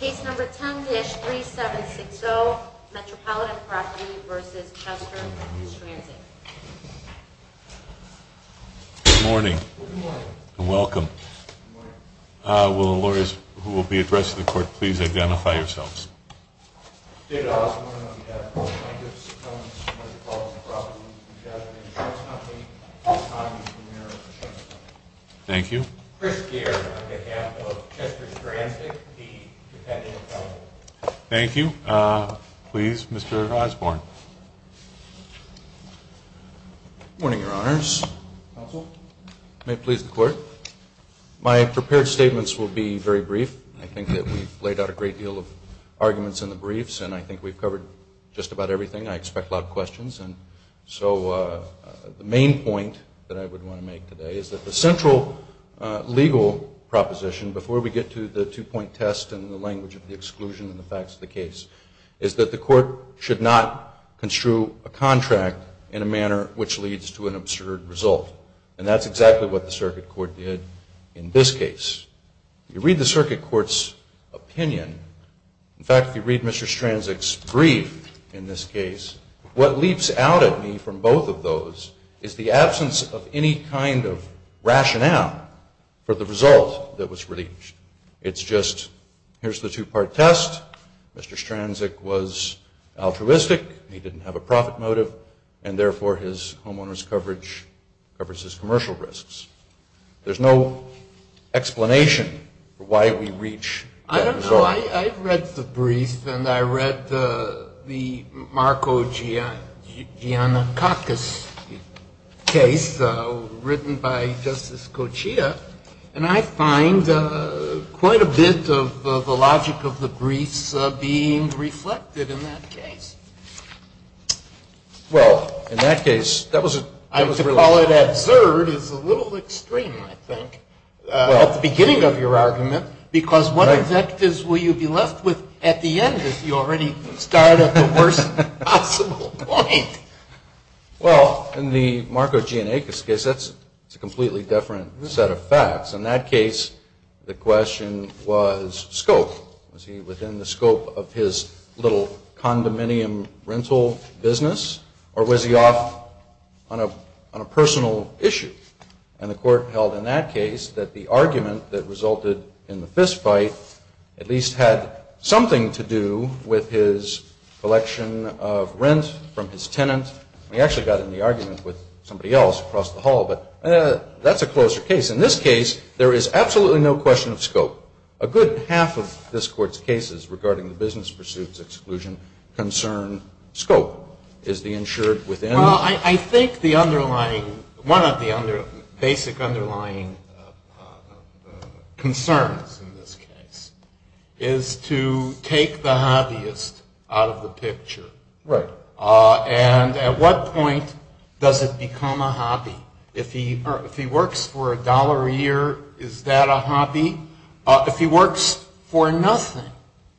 Case No. 10-3760 Metropolitan Property v. Chester Stranczek Good morning. Good morning. Welcome. Good morning. Will the lawyers who will be addressing the court please identify yourselves. David Osborne on behalf of the plaintiffs from Metropolitan Property and Casualty Insurance Company, and Tom McNamara of the insurance company. Thank you. Chris Gehr on behalf of Chester Stranczek, the defendant's counsel. Thank you. Please, Mr. Osborne. Good morning, Your Honors. Counsel. May it please the court. My prepared statements will be very brief. I think that we've laid out a great deal of arguments in the briefs, and I think we've covered just about everything. I expect a lot of questions. And so the main point that I would want to make today is that the central legal proposition, before we get to the two-point test and the language of the exclusion and the facts of the case, is that the court should not construe a contract in a manner which leads to an absurd result. And that's exactly what the circuit court did in this case. You read the circuit court's opinion. In fact, if you read Mr. Stranczek's brief in this case, what leaps out at me from both of those is the absence of any kind of rationale for the result that was reached. It's just, here's the two-part test. Mr. Stranczek was altruistic. He didn't have a profit motive, and, therefore, his homeowner's coverage covers his commercial risks. There's no explanation for why we reach that result. Well, I don't know. I read the brief, and I read the Marco Giannakakis case written by Justice Kochia, and I find quite a bit of the logic of the briefs being reflected in that case. Well, in that case, that was a- To call it absurd is a little extreme, I think, at the beginning of your argument, because what objectives will you be left with at the end if you already start at the worst possible point? Well, in the Marco Giannakakis case, that's a completely different set of facts. In that case, the question was scope. Was he within the scope of his little condominium rental business, or was he off on a personal issue? And the Court held in that case that the argument that resulted in the fistfight at least had something to do with his collection of rent from his tenant. We actually got in the argument with somebody else across the hall, but that's a closer case. In this case, there is absolutely no question of scope. A good half of this Court's cases regarding the business pursuits exclusion concern scope. Is the insured within- Well, I think one of the basic underlying concerns in this case is to take the hobbyist out of the picture. Right. And at what point does it become a hobby? If he works for a dollar a year, is that a hobby? If he works for nothing,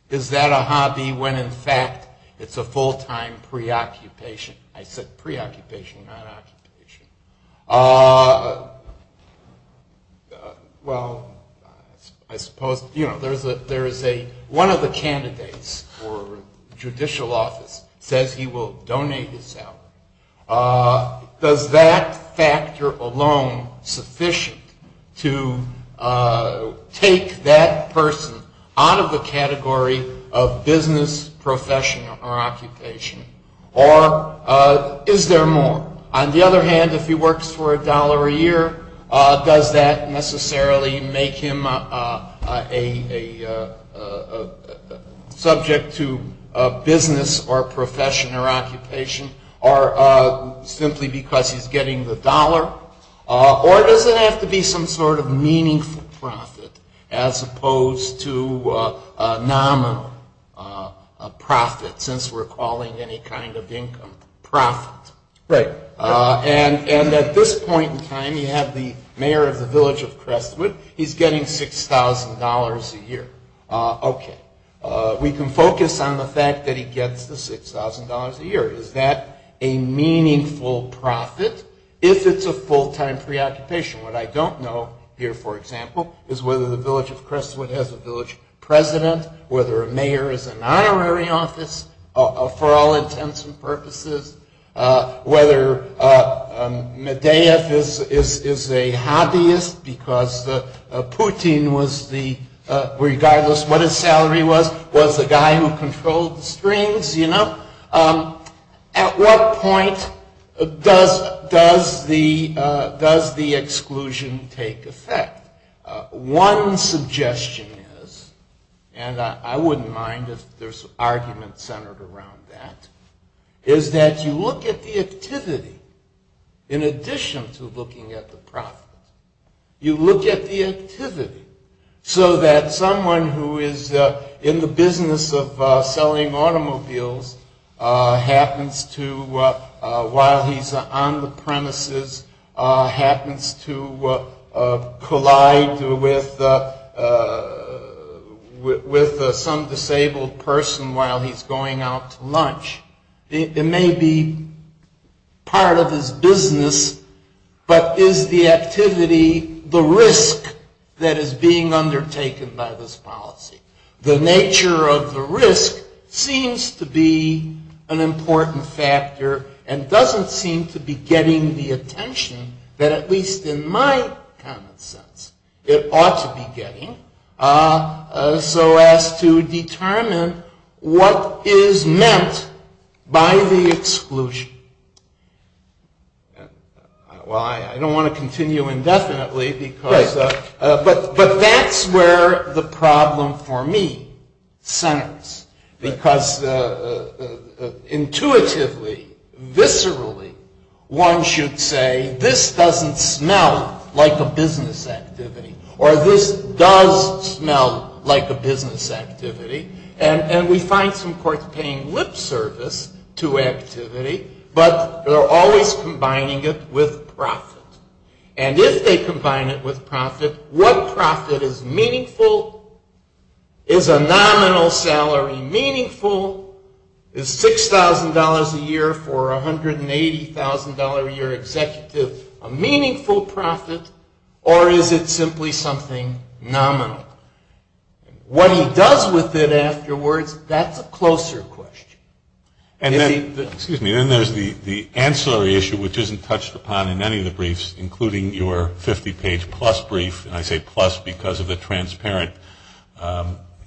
is that a hobby when, in fact, it's a full-time preoccupation? I said preoccupation, not occupation. Well, I suppose, you know, there is a- one of the candidates for judicial office says he will donate his hour. Does that factor alone sufficient to take that person out of the category of business, profession, or occupation? Or is there more? On the other hand, if he works for a dollar a year, does that necessarily make him a subject to business or profession or occupation? Or simply because he's getting the dollar? Or does it have to be some sort of meaningful profit as opposed to nominal profit, since we're calling any kind of income profit? Right. And at this point in time, you have the mayor of the village of Crestwood. He's getting $6,000 a year. Okay. We can focus on the fact that he gets the $6,000 a year. Is that a meaningful profit if it's a full-time preoccupation? What I don't know here, for example, is whether the village of Crestwood has a village president, whether a mayor is an honorary office for all intents and purposes, whether Medeev is a hobbyist because Putin was the- regardless of what his salary was, was the guy who controlled the strings, you know? At what point does the exclusion take effect? One suggestion is, and I wouldn't mind if there's argument centered around that, is that you look at the activity in addition to looking at the profit. You look at the activity so that someone who is in the business of selling automobiles happens to, while he's on the premises, happens to collide with some disabled person while he's going out to lunch. It may be part of his business, but is the activity the risk that is being undertaken by this policy? The nature of the risk seems to be an important factor and doesn't seem to be getting the attention that, at least in my common sense, it ought to be getting so as to determine what is meant by the exclusion. Well, I don't want to continue indefinitely because- Right. But that's where the problem for me centers. Because intuitively, viscerally, one should say, this doesn't smell like a business activity or this does smell like a business activity. And we find some courts paying lip service to activity, but they're always combining it with profit. And if they combine it with profit, what profit is meaningful? Is a nominal salary meaningful? Is $6,000 a year for a $180,000 a year executive a meaningful profit? Or is it simply something nominal? What he does with it afterwards, that's a closer question. Excuse me. Then there's the ancillary issue, which isn't touched upon in any of the briefs, including your 50-page plus brief. And I say plus because of the transparent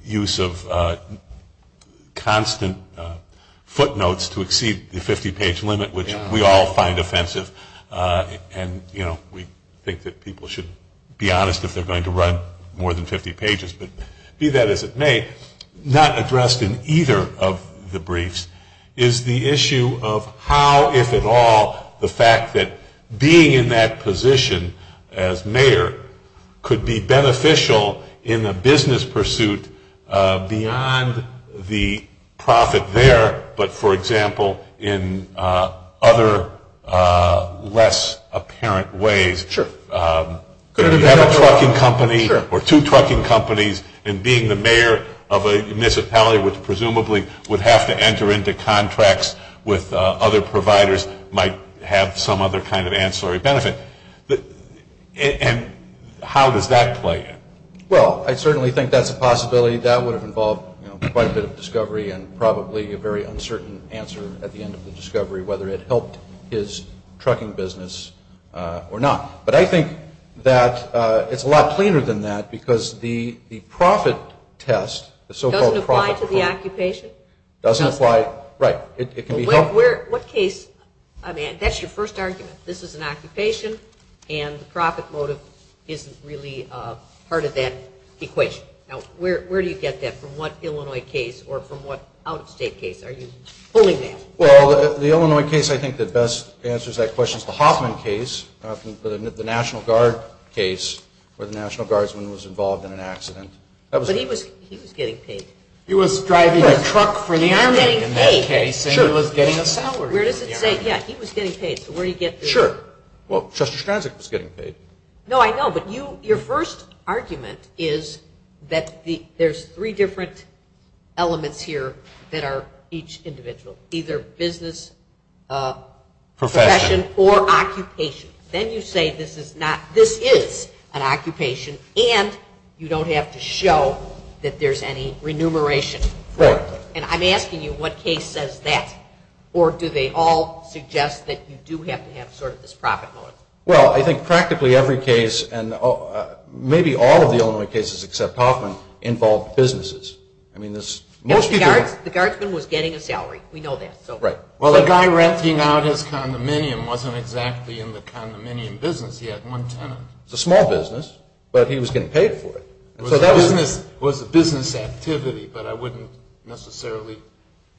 use of constant footnotes to exceed the 50-page limit, which we all find offensive. And we think that people should be honest if they're going to run more than 50 pages. But be that as it may, not addressed in either of the briefs is the issue of how, if at all, the fact that being in that position as mayor could be beneficial in a business pursuit beyond the profit there, but, for example, in other less apparent ways. Sure. You have a trucking company or two trucking companies, and being the mayor of a municipality, which presumably would have to enter into contracts with other providers, might have some other kind of ancillary benefit. And how does that play in? Well, I certainly think that's a possibility. Certainly that would have involved quite a bit of discovery and probably a very uncertain answer at the end of the discovery, whether it helped his trucking business or not. But I think that it's a lot cleaner than that because the profit test, the so-called profit test. It doesn't apply to the occupation? It doesn't apply. Right. It can be helped. That's your first argument. This is an occupation, and the profit motive isn't really part of that equation. Now, where do you get that? From what Illinois case or from what out-of-state case are you pulling that? Well, the Illinois case I think that best answers that question is the Hoffman case, the National Guard case where the National Guardsman was involved in an accident. But he was getting paid. He was driving a truck for the Army in that case, and he was getting a salary. Sure. Where does it say? Yeah, he was getting paid. So where do you get this? Sure. Well, Chester Stransick was getting paid. No, I know, but your first argument is that there's three different elements here that are each individual, either business, profession, or occupation. Then you say this is an occupation, and you don't have to show that there's any remuneration. Right. And I'm asking you what case says that, or do they all suggest that you do have to have sort of this profit motive? Well, I think practically every case, and maybe all of the Illinois cases except Hoffman, involved businesses. I mean, most people don't. The Guardsman was getting a salary. We know that. Right. Well, the guy renting out his condominium wasn't exactly in the condominium business. He had one tenant. It's a small business, but he was getting paid for it. It was a business activity, but I wouldn't necessarily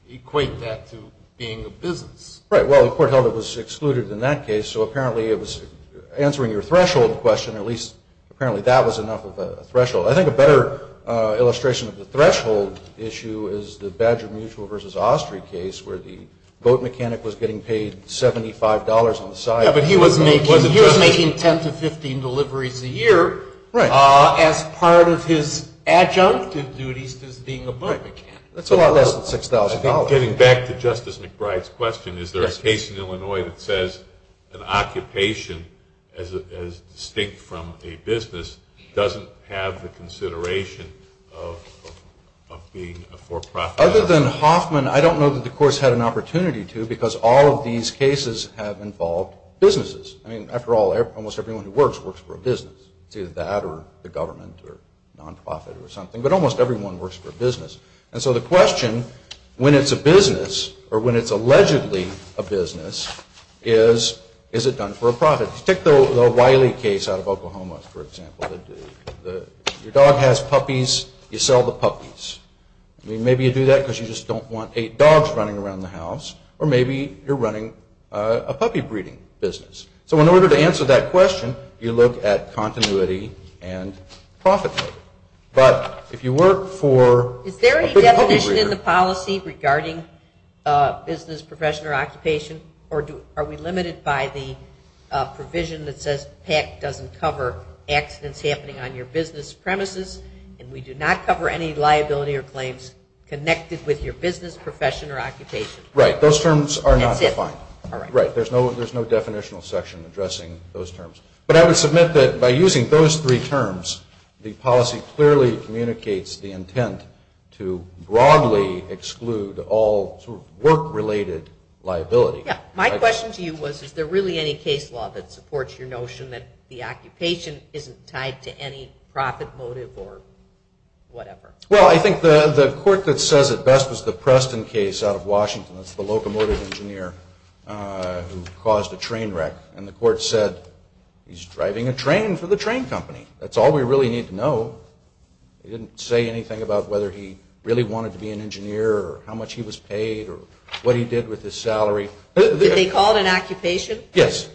equate that to being a business. Right. Well, the court held it was excluded in that case, so apparently it was answering your threshold question, at least apparently that was enough of a threshold. I think a better illustration of the threshold issue is the Badger Mutual v. Austri case, where the boat mechanic was getting paid $75 on the side. Yeah, but he was making 10 to 15 deliveries a year as part of his adjunctive duties as being a boat mechanic. That's a lot less than $6,000. Getting back to Justice McBride's question, is there a case in Illinois that says an occupation as distinct from a business doesn't have the consideration of being a for-profit? Other than Hoffman, I don't know that the courts had an opportunity to because all of these cases have involved businesses. I mean, after all, almost everyone who works works for a business. It's either that or the government or nonprofit or something, but almost everyone works for a business. And so the question, when it's a business or when it's allegedly a business, is is it done for a profit? Take the Wiley case out of Oklahoma, for example. Your dog has puppies, you sell the puppies. I mean, maybe you do that because you just don't want eight dogs running around the house, or maybe you're running a puppy breeding business. So in order to answer that question, you look at continuity and profit. But if you work for a big puppy breeder. Is there any definition in the policy regarding business, profession, or occupation, or are we limited by the provision that says PAC doesn't cover accidents happening on your business premises and we do not cover any liability or claims connected with your business, profession, or occupation? Those terms are not defined. That's it. Right. There's no definitional section addressing those terms. But I would submit that by using those three terms, the policy clearly communicates the intent to broadly exclude all work-related liability. Yeah. My question to you was, is there really any case law that supports your notion that the occupation isn't tied to any profit motive or whatever? Well, I think the court that says it best was the Preston case out of Washington. That's the locomotive engineer who caused a train wreck. And the court said, he's driving a train for the train company. That's all we really need to know. They didn't say anything about whether he really wanted to be an engineer or how much he was paid or what he did with his salary. Did they call it an occupation? Yes.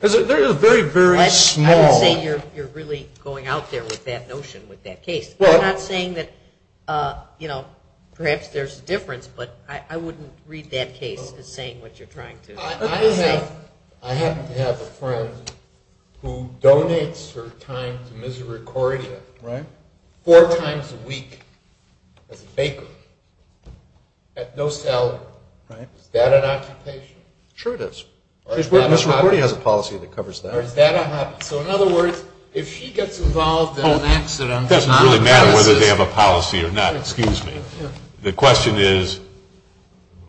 They're very, very small. I would say you're really going out there with that notion, with that case. You're not saying that, you know, perhaps there's a difference, but I wouldn't read that case as saying what you're trying to say. I happen to have a friend who donates her time to Misericordia four times a week as a baker at no salary. Is that an occupation? Sure it is. Misericordia has a policy that covers that. Or is that a hobby? So, in other words, if she gets involved in an accident, it doesn't really matter whether they have a policy or not, excuse me. The question is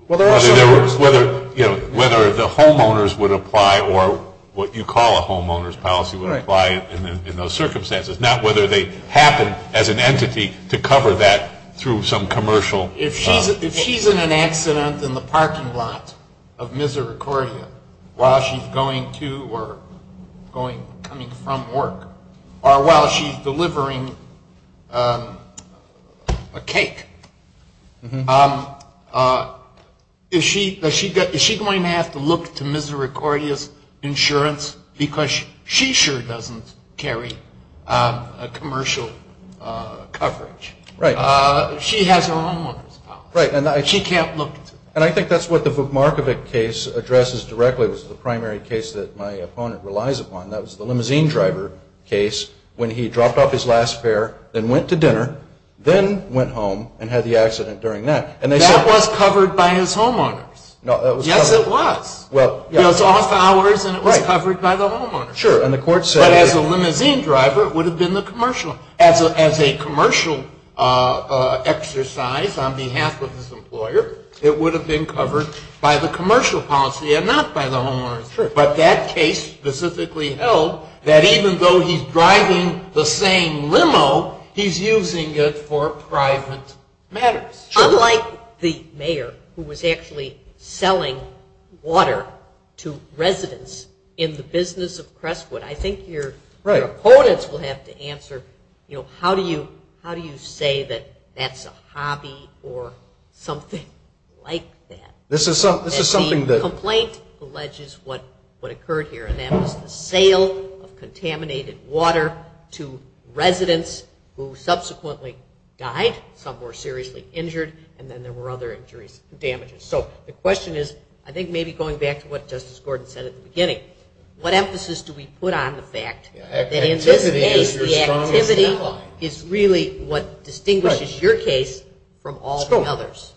whether the homeowners would apply or what you call a homeowner's policy would apply in those circumstances, not whether they happen as an entity to cover that through some commercial. If she's in an accident in the parking lot of Misericordia while she's going to or coming from work or while she's delivering a cake, is she going to have to look to Misericordia's insurance because she sure doesn't carry a commercial coverage. Right. She has her homeowners policy. She can't look to it. And I think that's what the Vukmarkovic case addresses directly, which is the primary case that my opponent relies upon. That was the limousine driver case when he dropped off his last fare and went to dinner, then went home and had the accident during that. That was covered by his homeowners. Yes, it was. It was off hours and it was covered by the homeowners. Sure. But as a limousine driver, it would have been the commercial. As a commercial exercise on behalf of his employer, it would have been covered by the commercial policy and not by the homeowners. Sure. But that case specifically held that even though he's driving the same limo, he's using it for private matters. Sure. Unlike the mayor who was actually selling water to residents in the business of Crestwood, I think your opponents will have to answer, you know, how do you say that that's a hobby or something like that? This is something that... The complaint alleges what occurred here, and that was the sale of contaminated water to residents who subsequently died, some were seriously injured, and then there were other injuries and damages. So the question is, I think maybe going back to what Justice Gordon said at the beginning, what emphasis do we put on the fact that in this case the activity is really what distinguishes your case from all the others?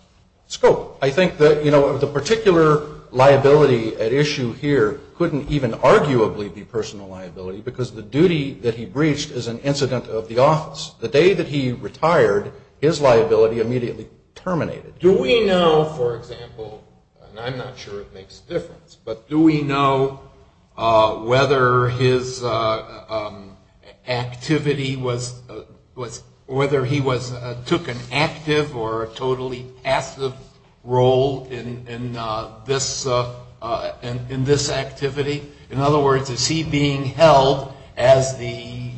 Scope. Scope. I think that, you know, the particular liability at issue here couldn't even arguably be personal liability because the duty that he breached is an incident of the office. The day that he retired, his liability immediately terminated. Do we know, for example, and I'm not sure it makes a difference, but do we know whether his activity was... whether he took an active or a totally passive role in this activity? In other words, is he being held as the,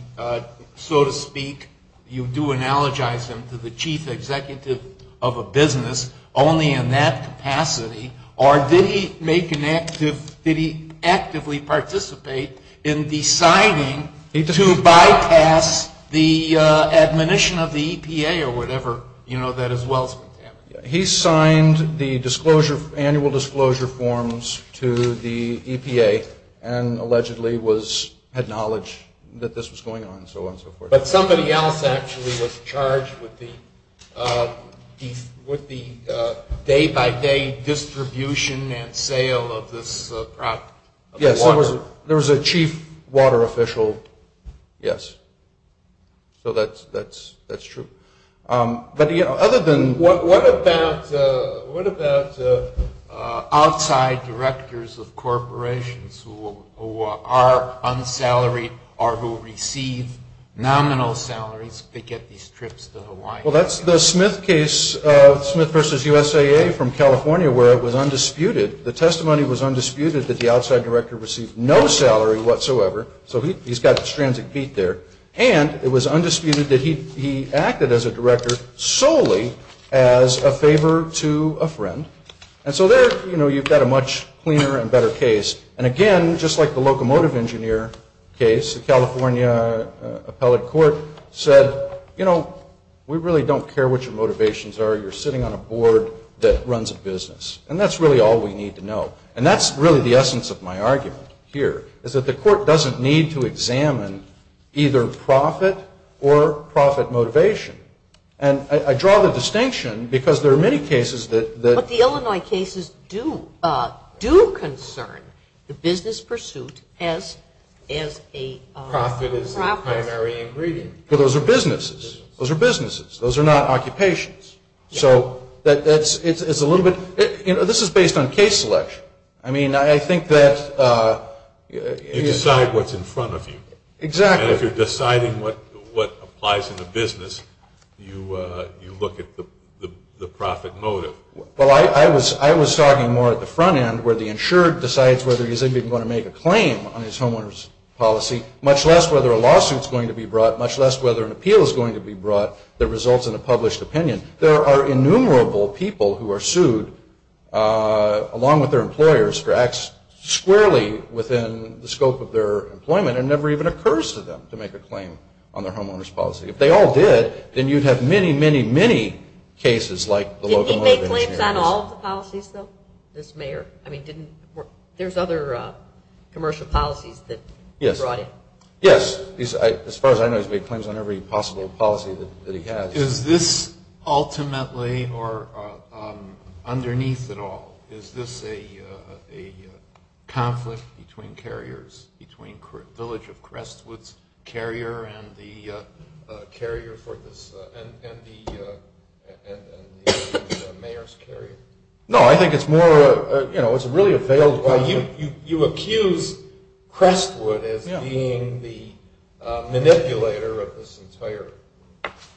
so to speak, you do analogize him to the chief executive of a business only in that capacity, or did he make an active, did he actively participate in deciding to bypass the admonition of the EPA or whatever, you know, that is Wellesley County? He signed the disclosure, annual disclosure forms to the EPA and allegedly had knowledge that this was going on and so on and so forth. But somebody else actually was charged with the day-by-day distribution and sale of this product. Yes, there was a chief water official, yes. So that's true. But, you know, other than... What about outside directors of corporations who are unsalaried or who receive nominal salaries to get these trips to Hawaii? Well, that's the Smith case, Smith v. USAA from California, where it was undisputed. The testimony was undisputed that the outside director received no salary whatsoever. So he's got the stransic beat there. And it was undisputed that he acted as a director solely as a favor to a friend. And so there, you know, you've got a much cleaner and better case. And, again, just like the locomotive engineer case, the California appellate court said, you know, we really don't care what your motivations are. You're sitting on a board that runs a business. And that's really all we need to know. And that's really the essence of my argument here, is that the court doesn't need to examine either profit or profit motivation. And I draw the distinction because there are many cases that... But the Illinois cases do concern the business pursuit as a... Profit is the primary ingredient. But those are businesses. Those are businesses. Those are not occupations. So it's a little bit... You know, this is based on case selection. I mean, I think that... You decide what's in front of you. Exactly. And if you're deciding what applies in the business, you look at the profit motive. Well, I was talking more at the front end, where the insured decides whether he's even going to make a claim on his homeowner's policy, much less whether a lawsuit's going to be brought, much less whether an appeal is going to be brought that results in a published opinion. There are innumerable people who are sued, along with their employers, for acts squarely within the scope of their employment and never even occurs to them to make a claim on their homeowner's policy. If they all did, then you'd have many, many, many cases like the locomotive insurance. Did he make claims on all of the policies, though, this mayor? I mean, didn't... There's other commercial policies that he brought in. Yes. Yes. As far as I know, he's made claims on every possible policy that he has. Is this ultimately, or underneath it all, is this a conflict between carriers, between Village of Crestwood's carrier and the mayor's carrier? No, I think it's more, you know, it's really a failed... You accuse Crestwood as being the manipulator of this entire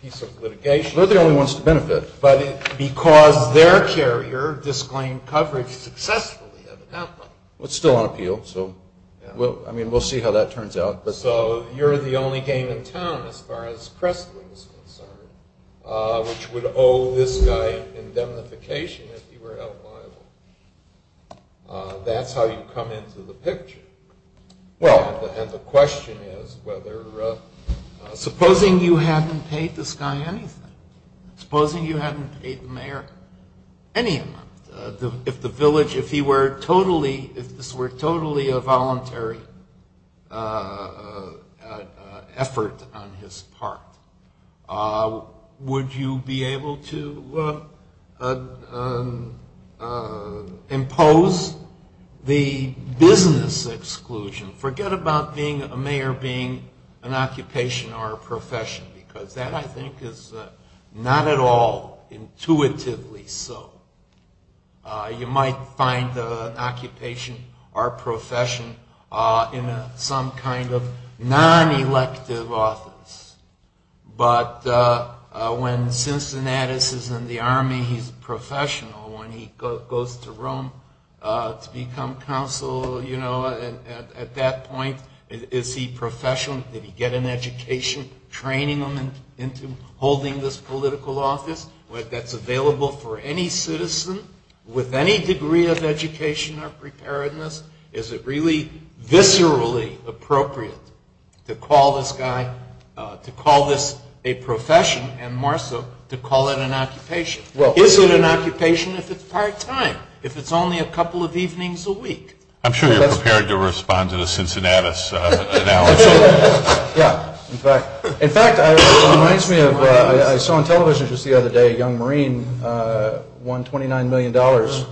piece of litigation. They're the only ones to benefit. But because their carrier disclaimed coverage successfully at an outlet. Well, it's still on appeal, so, I mean, we'll see how that turns out. So you're the only game in town as far as Crestwood is concerned, which would owe this guy indemnification if he were held liable. That's how you come into the picture. Well... And the question is whether... Supposing you hadn't paid this guy anything. Supposing you hadn't paid the mayor any amount. If the village, if he were totally, if this were totally a voluntary effort on his part, would you be able to impose the business exclusion? Forget about being a mayor being an occupation or a profession, because that, I think, is not at all intuitively so. You might find an occupation or profession in some kind of non-elective office. But when Cincinnati is in the army, he's a professional. When he goes to Rome to become council, you know, at that point, is he professional? Did he get an education training him into holding this political office that's available for any citizen with any degree of education or preparedness? Is it really viscerally appropriate to call this guy, to call this a profession and more so to call it an occupation? Is it an occupation if it's part-time, if it's only a couple of evenings a week? I'm sure you're prepared to respond to the Cincinnati analogy. In fact, it reminds me of, I saw on television just the other day, a young Marine won $29 million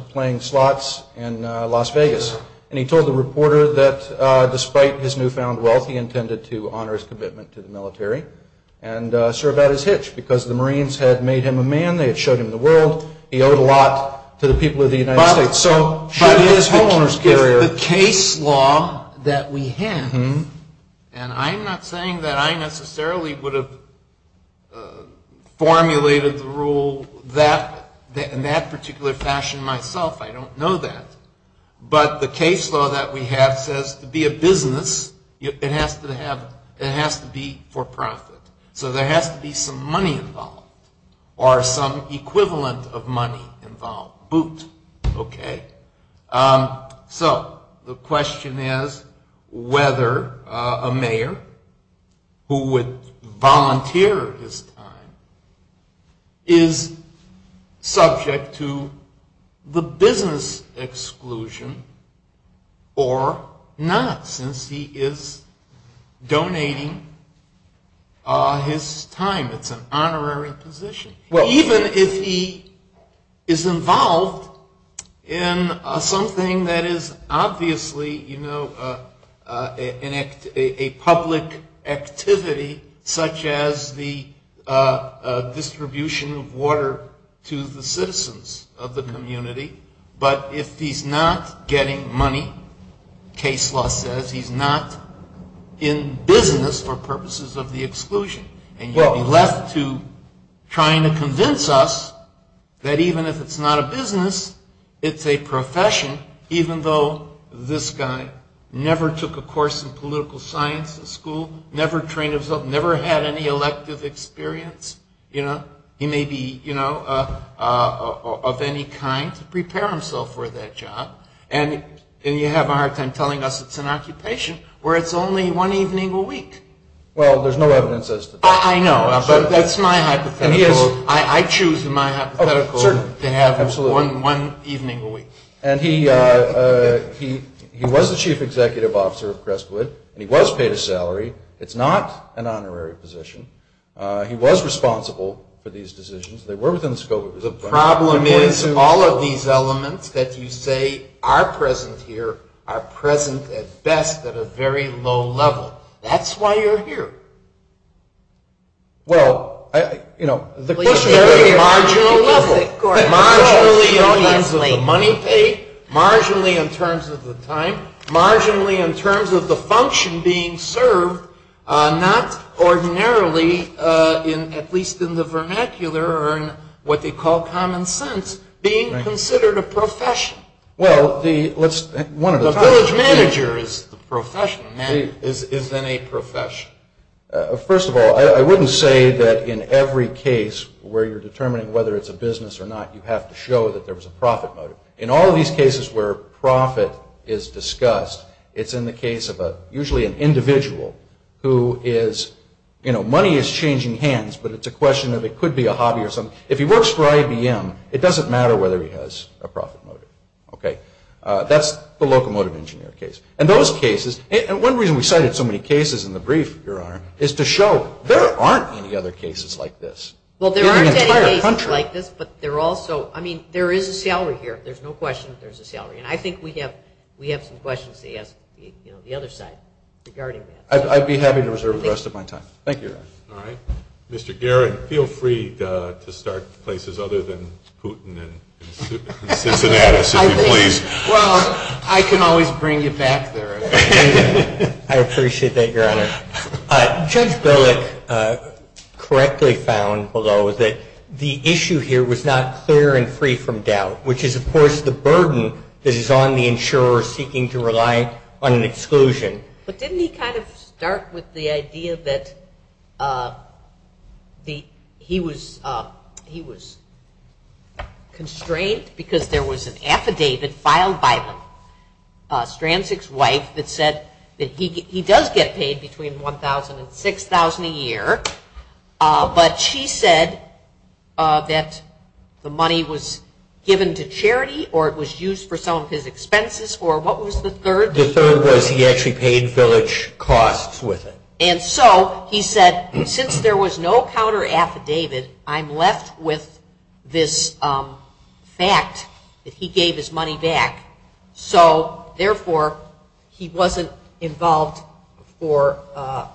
playing slots in Las Vegas. And he told the reporter that despite his newfound wealth, he intended to honor his commitment to the military and serve out his hitch, because the Marines had made him a man, they had showed him the world, he owed a lot to the people of the United States. The case law that we have, and I'm not saying that I necessarily would have formulated the rule in that particular fashion myself, I don't know that. But the case law that we have says to be a business, it has to be for profit. So there has to be some money involved or some equivalent of money involved. Boot, okay. So the question is whether a mayor who would volunteer his time is subject to the business exclusion or not, since he is donating his time, it's an honorary position. Even if he is involved in something that is obviously a public activity, such as the distribution of water to the citizens of the community. But if he's not getting money, case law says, he's not in business for purposes of the exclusion. And you'd be left to trying to convince us that even if it's not a business, it's a profession, even though this guy never took a course in political science in school, never trained himself, never had any elective experience. He may be of any kind to prepare himself for that job, and you have a hard time telling us it's an occupation where it's only one evening a week. Well, there's no evidence as to that. I know, but that's my hypothetical. I choose in my hypothetical to have one evening a week. And he was the chief executive officer of Crestwood, and he was paid a salary. It's not an honorary position. He was responsible for these decisions. They were within the scope of his employment. The problem is all of these elements that you say are present here are present at best at a very low level. That's why you're here. Well, you know, the question is at a marginal level, marginally in terms of the money paid, marginally in terms of the time, marginally in terms of the function being served, not ordinarily, at least in the vernacular or in what they call common sense, being considered a profession. Well, let's one at a time. The village manager is the profession. A man is then a profession. First of all, I wouldn't say that in every case where you're determining whether it's a business or not, you have to show that there was a profit motive. In all of these cases where profit is discussed, it's in the case of usually an individual who is, you know, money is changing hands, but it's a question of it could be a hobby or something. If he works for IBM, it doesn't matter whether he has a profit motive. Okay. That's the locomotive engineer case. And those cases, and one reason we cited so many cases in the brief, Your Honor, is to show there aren't any other cases like this. Well, there aren't any cases like this, but there are also, I mean, there is a salary here. There's no question that there's a salary. And I think we have some questions to ask, you know, the other side regarding that. I'd be happy to reserve the rest of my time. Thank you, Your Honor. All right. Mr. Garrett, feel free to start places other than Putin and Cincinnati, if you please. Well, I can always bring you back there. I appreciate that, Your Honor. Judge Billick correctly found below that the issue here was not clear and free from doubt, which is, of course, the burden that is on the insurer seeking to rely on an exclusion. But didn't he kind of start with the idea that he was constrained because there was an affidavit filed by Stransik's wife that said that he does get paid between $1,000 and $6,000 a year, but she said that the money was given to charity or it was used for some of his expenses, or what was the third? The third was he actually paid village costs with it. And so he said, since there was no counter affidavit, I'm left with this fact that he gave his money back, so therefore he wasn't involved for a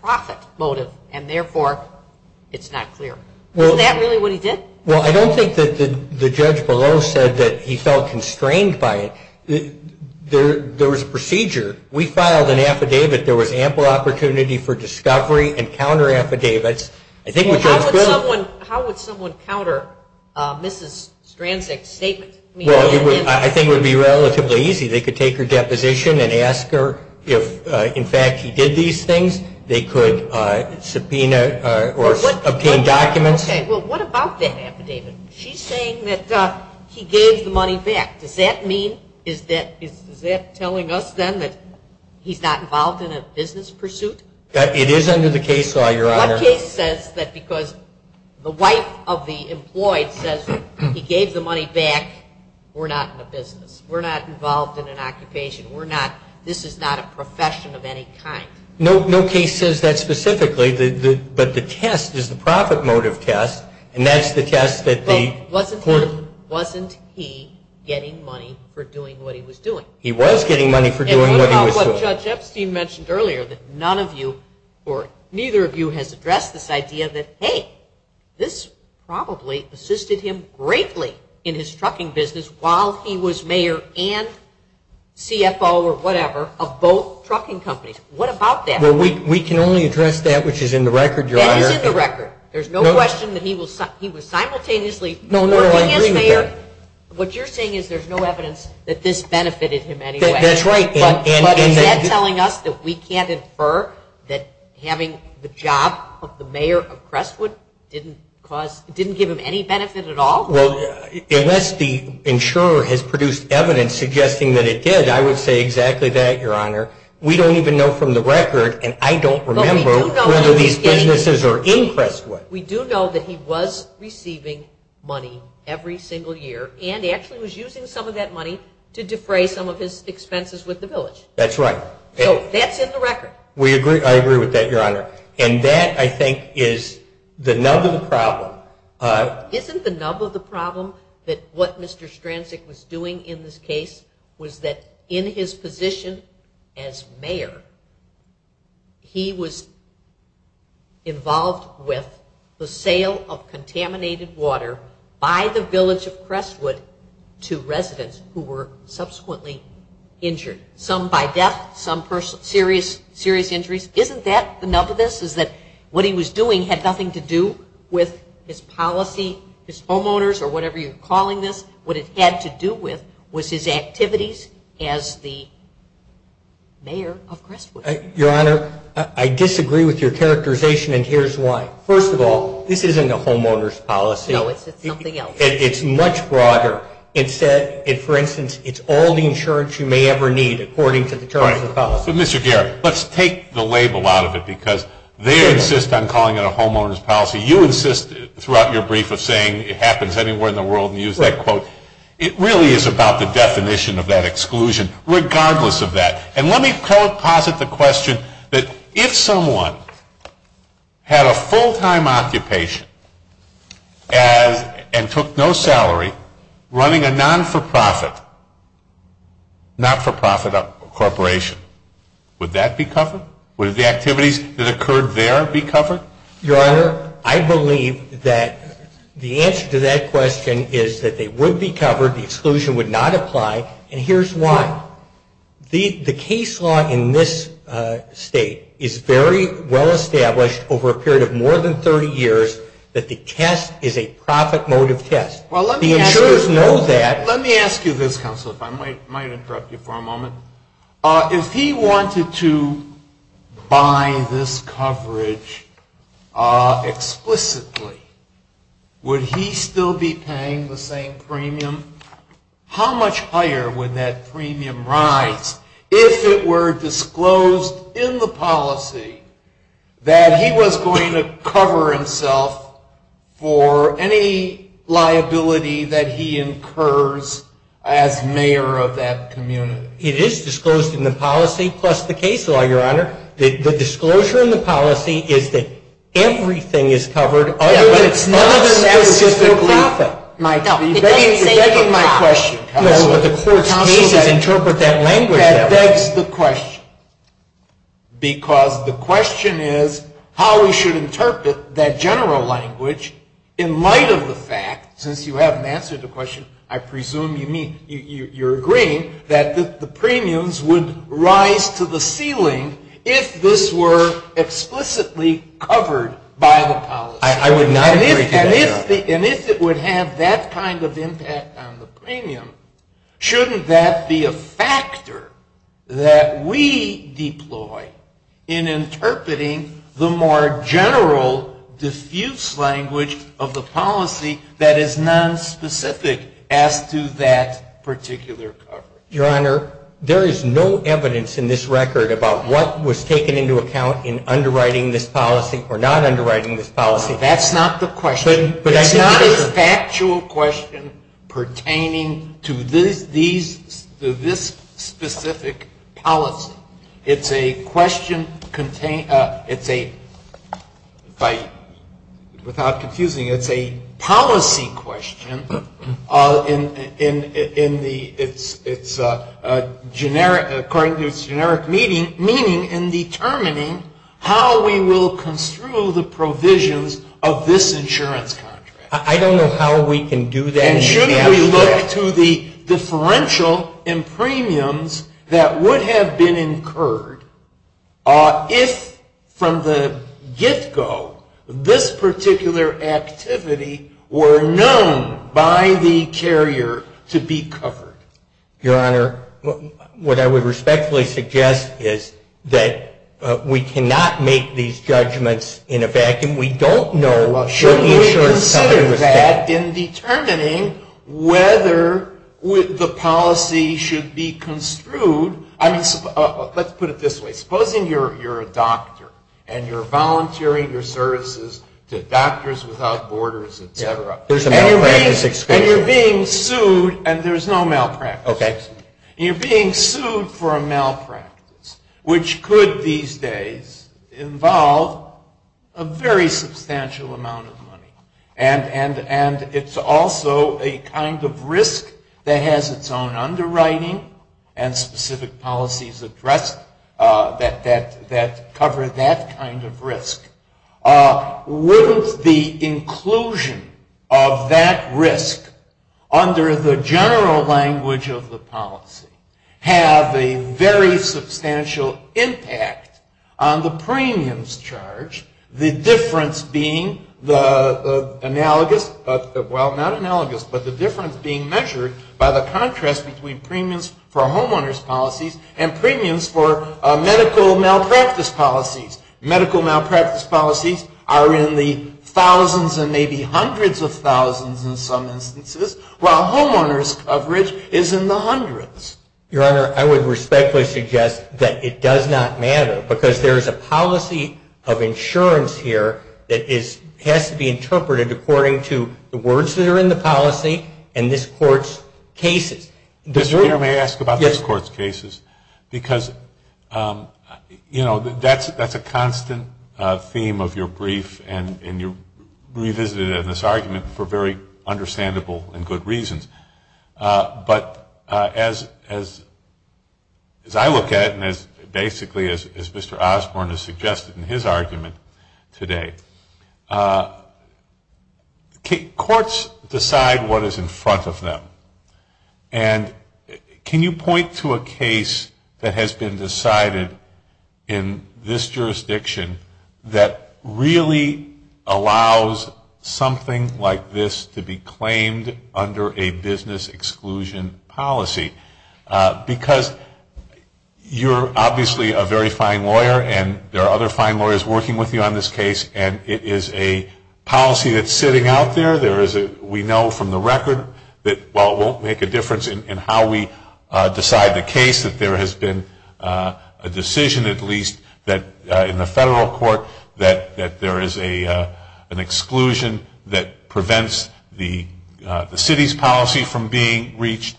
profit motive, and therefore it's not clear. Was that really what he did? Well, I don't think that the judge below said that he felt constrained by it. There was a procedure. We filed an affidavit. There was ample opportunity for discovery and counter affidavits. How would someone counter Mrs. Stransik's statement? I think it would be relatively easy. They could take her deposition and ask her if, in fact, he did these things. They could subpoena or obtain documents. Okay, well, what about that affidavit? She's saying that he gave the money back. Does that mean, is that telling us then that he's not involved in a business pursuit? It is under the case law, Your Honor. What case says that because the wife of the employee says he gave the money back, we're not in a business, we're not involved in an occupation, this is not a profession of any kind? No case says that specifically, but the test is the profit motive test, and that's the test that the court... Well, wasn't he getting money for doing what he was doing? He was getting money for doing what he was doing. And what about what Judge Epstein mentioned earlier, that none of you or neither of you has addressed this idea that, hey, this probably assisted him greatly in his trucking business while he was mayor and CFO or whatever of both trucking companies. What about that? Well, we can only address that which is in the record, Your Honor. That is in the record. There's no question that he was simultaneously working as mayor. What you're saying is there's no evidence that this benefited him anyway. That's right. But is that telling us that we can't infer that having the job of the mayor of Crestwood didn't give him any benefit at all? Unless the insurer has produced evidence suggesting that it did, I would say exactly that, Your Honor. We don't even know from the record, and I don't remember whether these businesses are in Crestwood. We do know that he was receiving money every single year and actually was using some of that money to defray some of his expenses with the village. That's right. So that's in the record. I agree with that, Your Honor. And that, I think, is the nub of the problem. Isn't the nub of the problem that what Mr. Strancic was doing in this case was that in his position as mayor, he was involved with the sale of contaminated water by the village of Crestwood to residents who were subsequently injured, some by death, some serious injuries. Isn't that the nub of this, is that what he was doing had nothing to do with his policy, his homeowners or whatever you're calling this? What it had to do with was his activities as the mayor of Crestwood. Your Honor, I disagree with your characterization, and here's why. First of all, this isn't a homeowner's policy. No, it's something else. It's much broader. For instance, it's all the insurance you may ever need according to the terms of the policy. Right. But, Mr. Garrett, let's take the label out of it because they insist on calling it a homeowner's policy. You insist throughout your brief of saying it happens anywhere in the world and you use that quote. It really is about the definition of that exclusion regardless of that. And let me posit the question that if someone had a full-time occupation and took no salary running a non-for-profit, not-for-profit corporation, would that be covered? Would the activities that occurred there be covered? Your Honor, I believe that the answer to that question is that they would be covered. The exclusion would not apply, and here's why. The case law in this state is very well established over a period of more than 30 years that the test is a profit motive test. The insurers know that. Let me ask you this, counsel, if I might interrupt you for a moment. If he wanted to buy this coverage explicitly, would he still be paying the same premium? How much higher would that premium rise if it were disclosed in the policy that he was going to cover himself for any liability that he incurs as mayor of that community? It is disclosed in the policy plus the case law, Your Honor. The disclosure in the policy is that everything is covered other than it's just a profit. You're begging my question, counsel. Counsel, that begs the question. Because the question is how we should interpret that general language in light of the fact, since you haven't answered the question, I presume you're agreeing that the premiums would rise to the ceiling if this were explicitly covered by the policy. I would not agree to that, Your Honor. And if it would have that kind of impact on the premium, shouldn't that be a factor that we deploy in interpreting the more general, diffuse language of the policy that is nonspecific as to that particular coverage? Your Honor, there is no evidence in this record about what was taken into account in underwriting this policy or not underwriting this policy. That's not the question. But it's not a factual question pertaining to this specific policy. It's a question contained by, without confusing, it's a policy question. According to its generic meaning, determining how we will construe the provisions of this insurance contract. I don't know how we can do that. And should we look to the differential in premiums that would have been incurred if, from the get-go, this particular activity were known by the carrier to be covered? Your Honor, what I would respectfully suggest is that we cannot make these judgments in a vacuum. We don't know whether we should consider that in determining whether the policy should be construed. I mean, let's put it this way. Supposing you're a doctor and you're volunteering your services to Doctors Without Borders, et cetera. There's a malpractice exclusion. And you're being sued, and there's no malpractice. Okay. And you're being sued for a malpractice, which could these days involve a very substantial amount of money. And it's also a kind of risk that has its own underwriting and specific policies addressed that cover that kind of risk. Wouldn't the inclusion of that risk under the general language of the policy have a very substantial impact on the premiums charge, the difference being the analogous, well, not analogous, but the difference being measured by the contrast between premiums for homeowners policies and premiums for medical malpractice policies? Medical malpractice policies are in the thousands and maybe hundreds of thousands in some instances, while homeowners coverage is in the hundreds. Your Honor, I would respectfully suggest that it does not matter because there is a policy of insurance here that has to be interpreted according to the words that are in the policy and this Court's cases. May I ask about this Court's cases? Because, you know, that's a constant theme of your brief, and you revisited it in this argument for very understandable and good reasons. But as I look at it, and basically as Mr. Osborne has suggested in his argument today, courts decide what is in front of them. And can you point to a case that has been decided in this jurisdiction that really allows something like this to be claimed under a business exclusion policy? Because you're obviously a very fine lawyer, and there are other fine lawyers working with you on this case, and it is a policy that's sitting out there. We know from the record that while it won't make a difference in how we decide the case, that there has been a decision at least in the federal court that there is an exclusion that prevents the city's policy from being reached.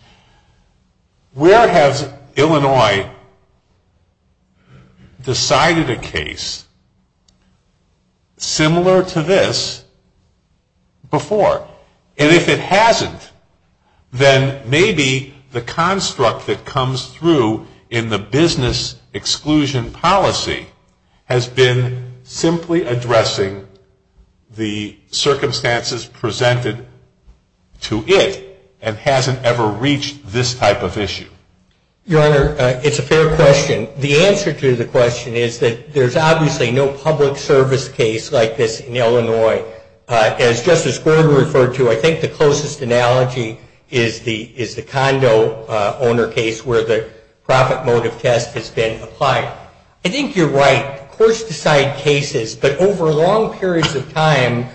Where has Illinois decided a case similar to this before? And if it hasn't, then maybe the construct that comes through in the business exclusion policy has been simply addressing the circumstances presented to it and hasn't ever reached this type of issue. Your Honor, it's a fair question. The answer to the question is that there's obviously no public service case like this in Illinois. As Justice Gordon referred to, I think the closest analogy is the condo owner case where the profit motive test has been applied. I think you're right. Courts decide cases, but over long periods of time,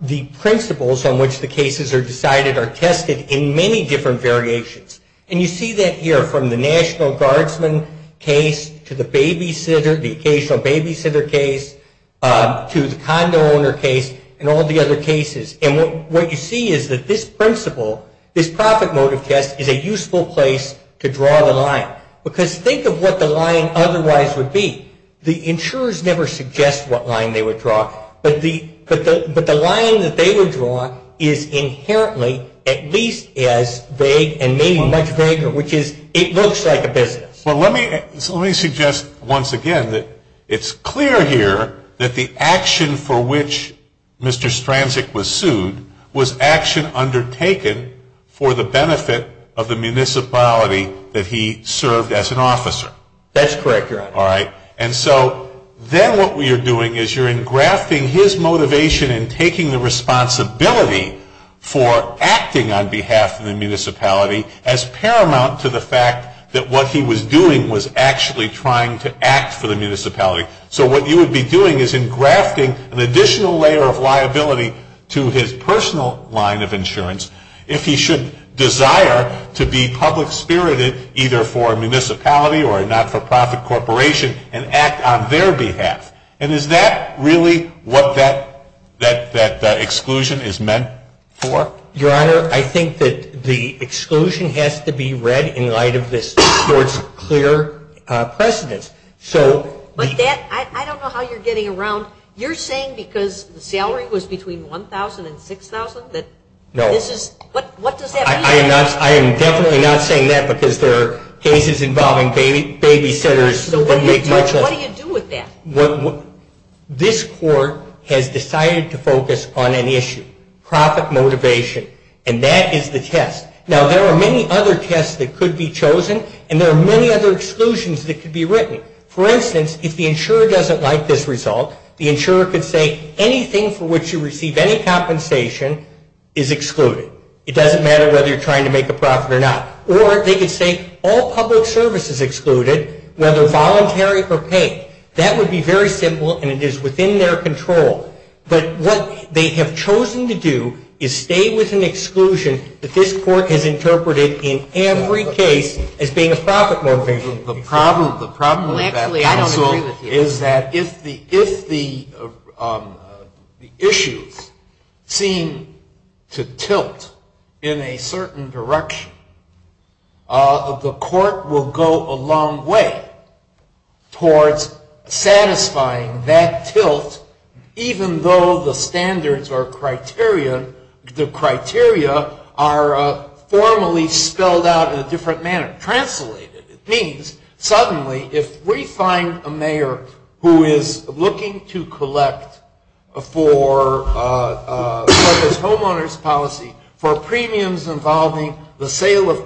the principles on which the cases are decided are tested in many different variations. And you see that here from the National Guardsman case to the occasional babysitter case to the condo owner case and all the other cases. And what you see is that this principle, this profit motive test, is a useful place to draw the line. Because think of what the line otherwise would be. The insurers never suggest what line they would draw, but the line that they would draw is inherently at least as vague and maybe much vaguer, which is it looks like a business. Well, let me suggest once again that it's clear here that the action for which Mr. Straczyk was sued was action undertaken for the benefit of the municipality that he served as an officer. That's correct, Your Honor. All right. And so then what you're doing is you're engrafting his motivation in taking the responsibility for acting on behalf of the municipality as paramount to the fact that what he was doing was actually trying to act for the municipality. So what you would be doing is engrafting an additional layer of liability to his personal line of insurance if he should desire to be public spirited either for a municipality or a not-for-profit corporation and act on their behalf. And is that really what that exclusion is meant for? Your Honor, I think that the exclusion has to be read in light of this Court's clear precedence. But that, I don't know how you're getting around. You're saying because the salary was between $1,000 and $6,000 that this is? No. What does that mean? I am definitely not saying that because there are cases involving babysitters. So what do you do with that? This Court has decided to focus on an issue, profit motivation, and that is the test. Now, there are many other tests that could be chosen and there are many other exclusions that could be written. For instance, if the insurer doesn't like this result, the insurer could say anything for which you receive any compensation is excluded. It doesn't matter whether you're trying to make a profit or not. Or they could say all public service is excluded, whether voluntary or paid. That would be very simple and it is within their control. But what they have chosen to do is stay with an exclusion that this Court has interpreted in every case as being a profit motivation. The problem with that counsel is that if the issues seem to tilt in a certain direction, the Court will go a long way towards satisfying that tilt even though the standards or criteria are formally spelled out in a different manner, translated. It means suddenly if we find a mayor who is looking to collect for his homeowner's policy for premiums involving the sale of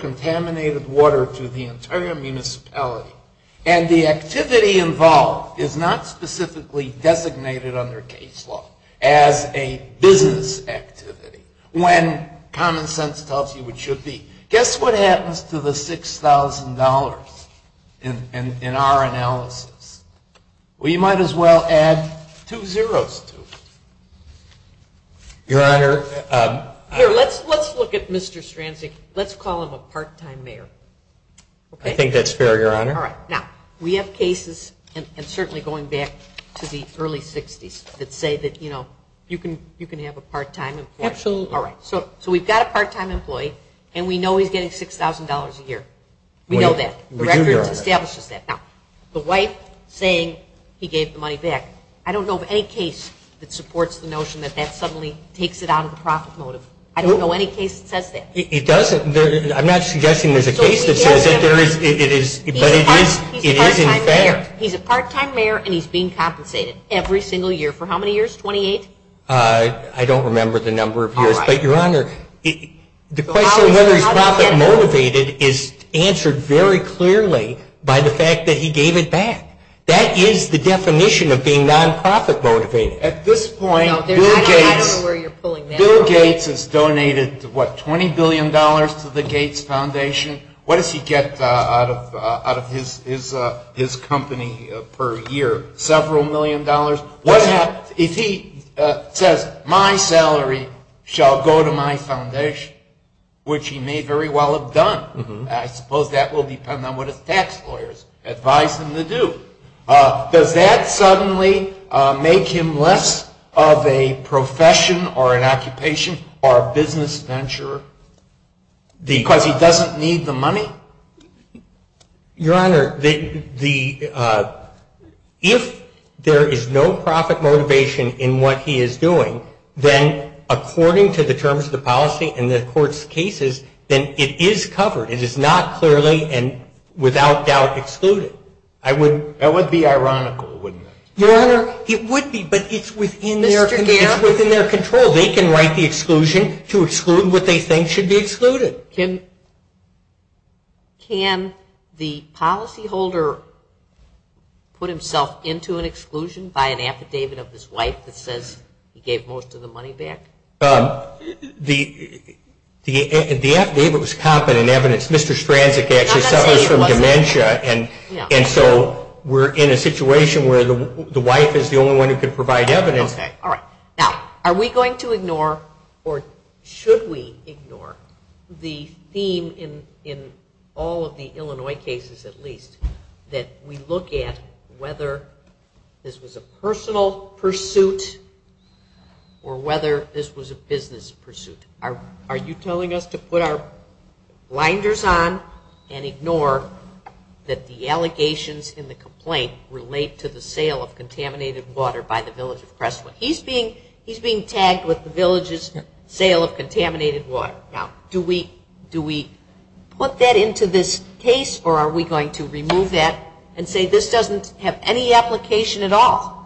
specifically designated under case law as a business activity when common sense tells you it should be. Guess what happens to the $6,000 in our analysis? We might as well add two zeros to it. Your Honor. Here, let's look at Mr. Stransky. Let's call him a part-time mayor. I think that's fair, Your Honor. All right. Now, we have cases and certainly going back to the early 60s that say that, you know, you can have a part-time employee. Absolutely. All right. So we've got a part-time employee and we know he's getting $6,000 a year. We know that. We do, Your Honor. The record establishes that. Now, the wife saying he gave the money back, I don't know of any case that supports the notion that that suddenly takes it out of the profit motive. I don't know any case that says that. It doesn't. I'm not suggesting there's a case that says that. But it is in fact. He's a part-time mayor and he's being compensated every single year for how many years? 28? I don't remember the number of years. All right. But, Your Honor, the question whether he's profit motivated is answered very clearly by the fact that he gave it back. That is the definition of being non-profit motivated. I don't know where you're pulling that from. Bill Gates has donated, what, $20 billion to the Gates Foundation? What does he get out of his company per year? Several million dollars? What happens if he says, my salary shall go to my foundation, which he may very well have done? I suppose that will depend on what his tax lawyers advise him to do. Does that suddenly make him less of a profession or an occupation or a business venture? Because he doesn't need the money? Your Honor, if there is no profit motivation in what he is doing, then according to the terms of the policy and the court's cases, then it is covered. It is not clearly and without doubt excluded. That would be ironical, wouldn't it? Your Honor, it would be, but it's within their control. They can write the exclusion to exclude what they think should be excluded. Can the policyholder put himself into an exclusion by an affidavit of his wife that says he gave most of the money back? The affidavit was competent evidence. Mr. Stranzic actually suffers from dementia, and so we're in a situation where the wife is the only one who can provide evidence. Now, are we going to ignore or should we ignore the theme in all of the Illinois cases, at least, that we look at whether this was a personal pursuit or whether this was a business pursuit? Are you telling us to put our blinders on and ignore that the allegations in the complaint relate to the sale of contaminated water by the village of Crestwood? He's being tagged with the village's sale of contaminated water. Now, do we put that into this case, or are we going to remove that and say this doesn't have any application at all?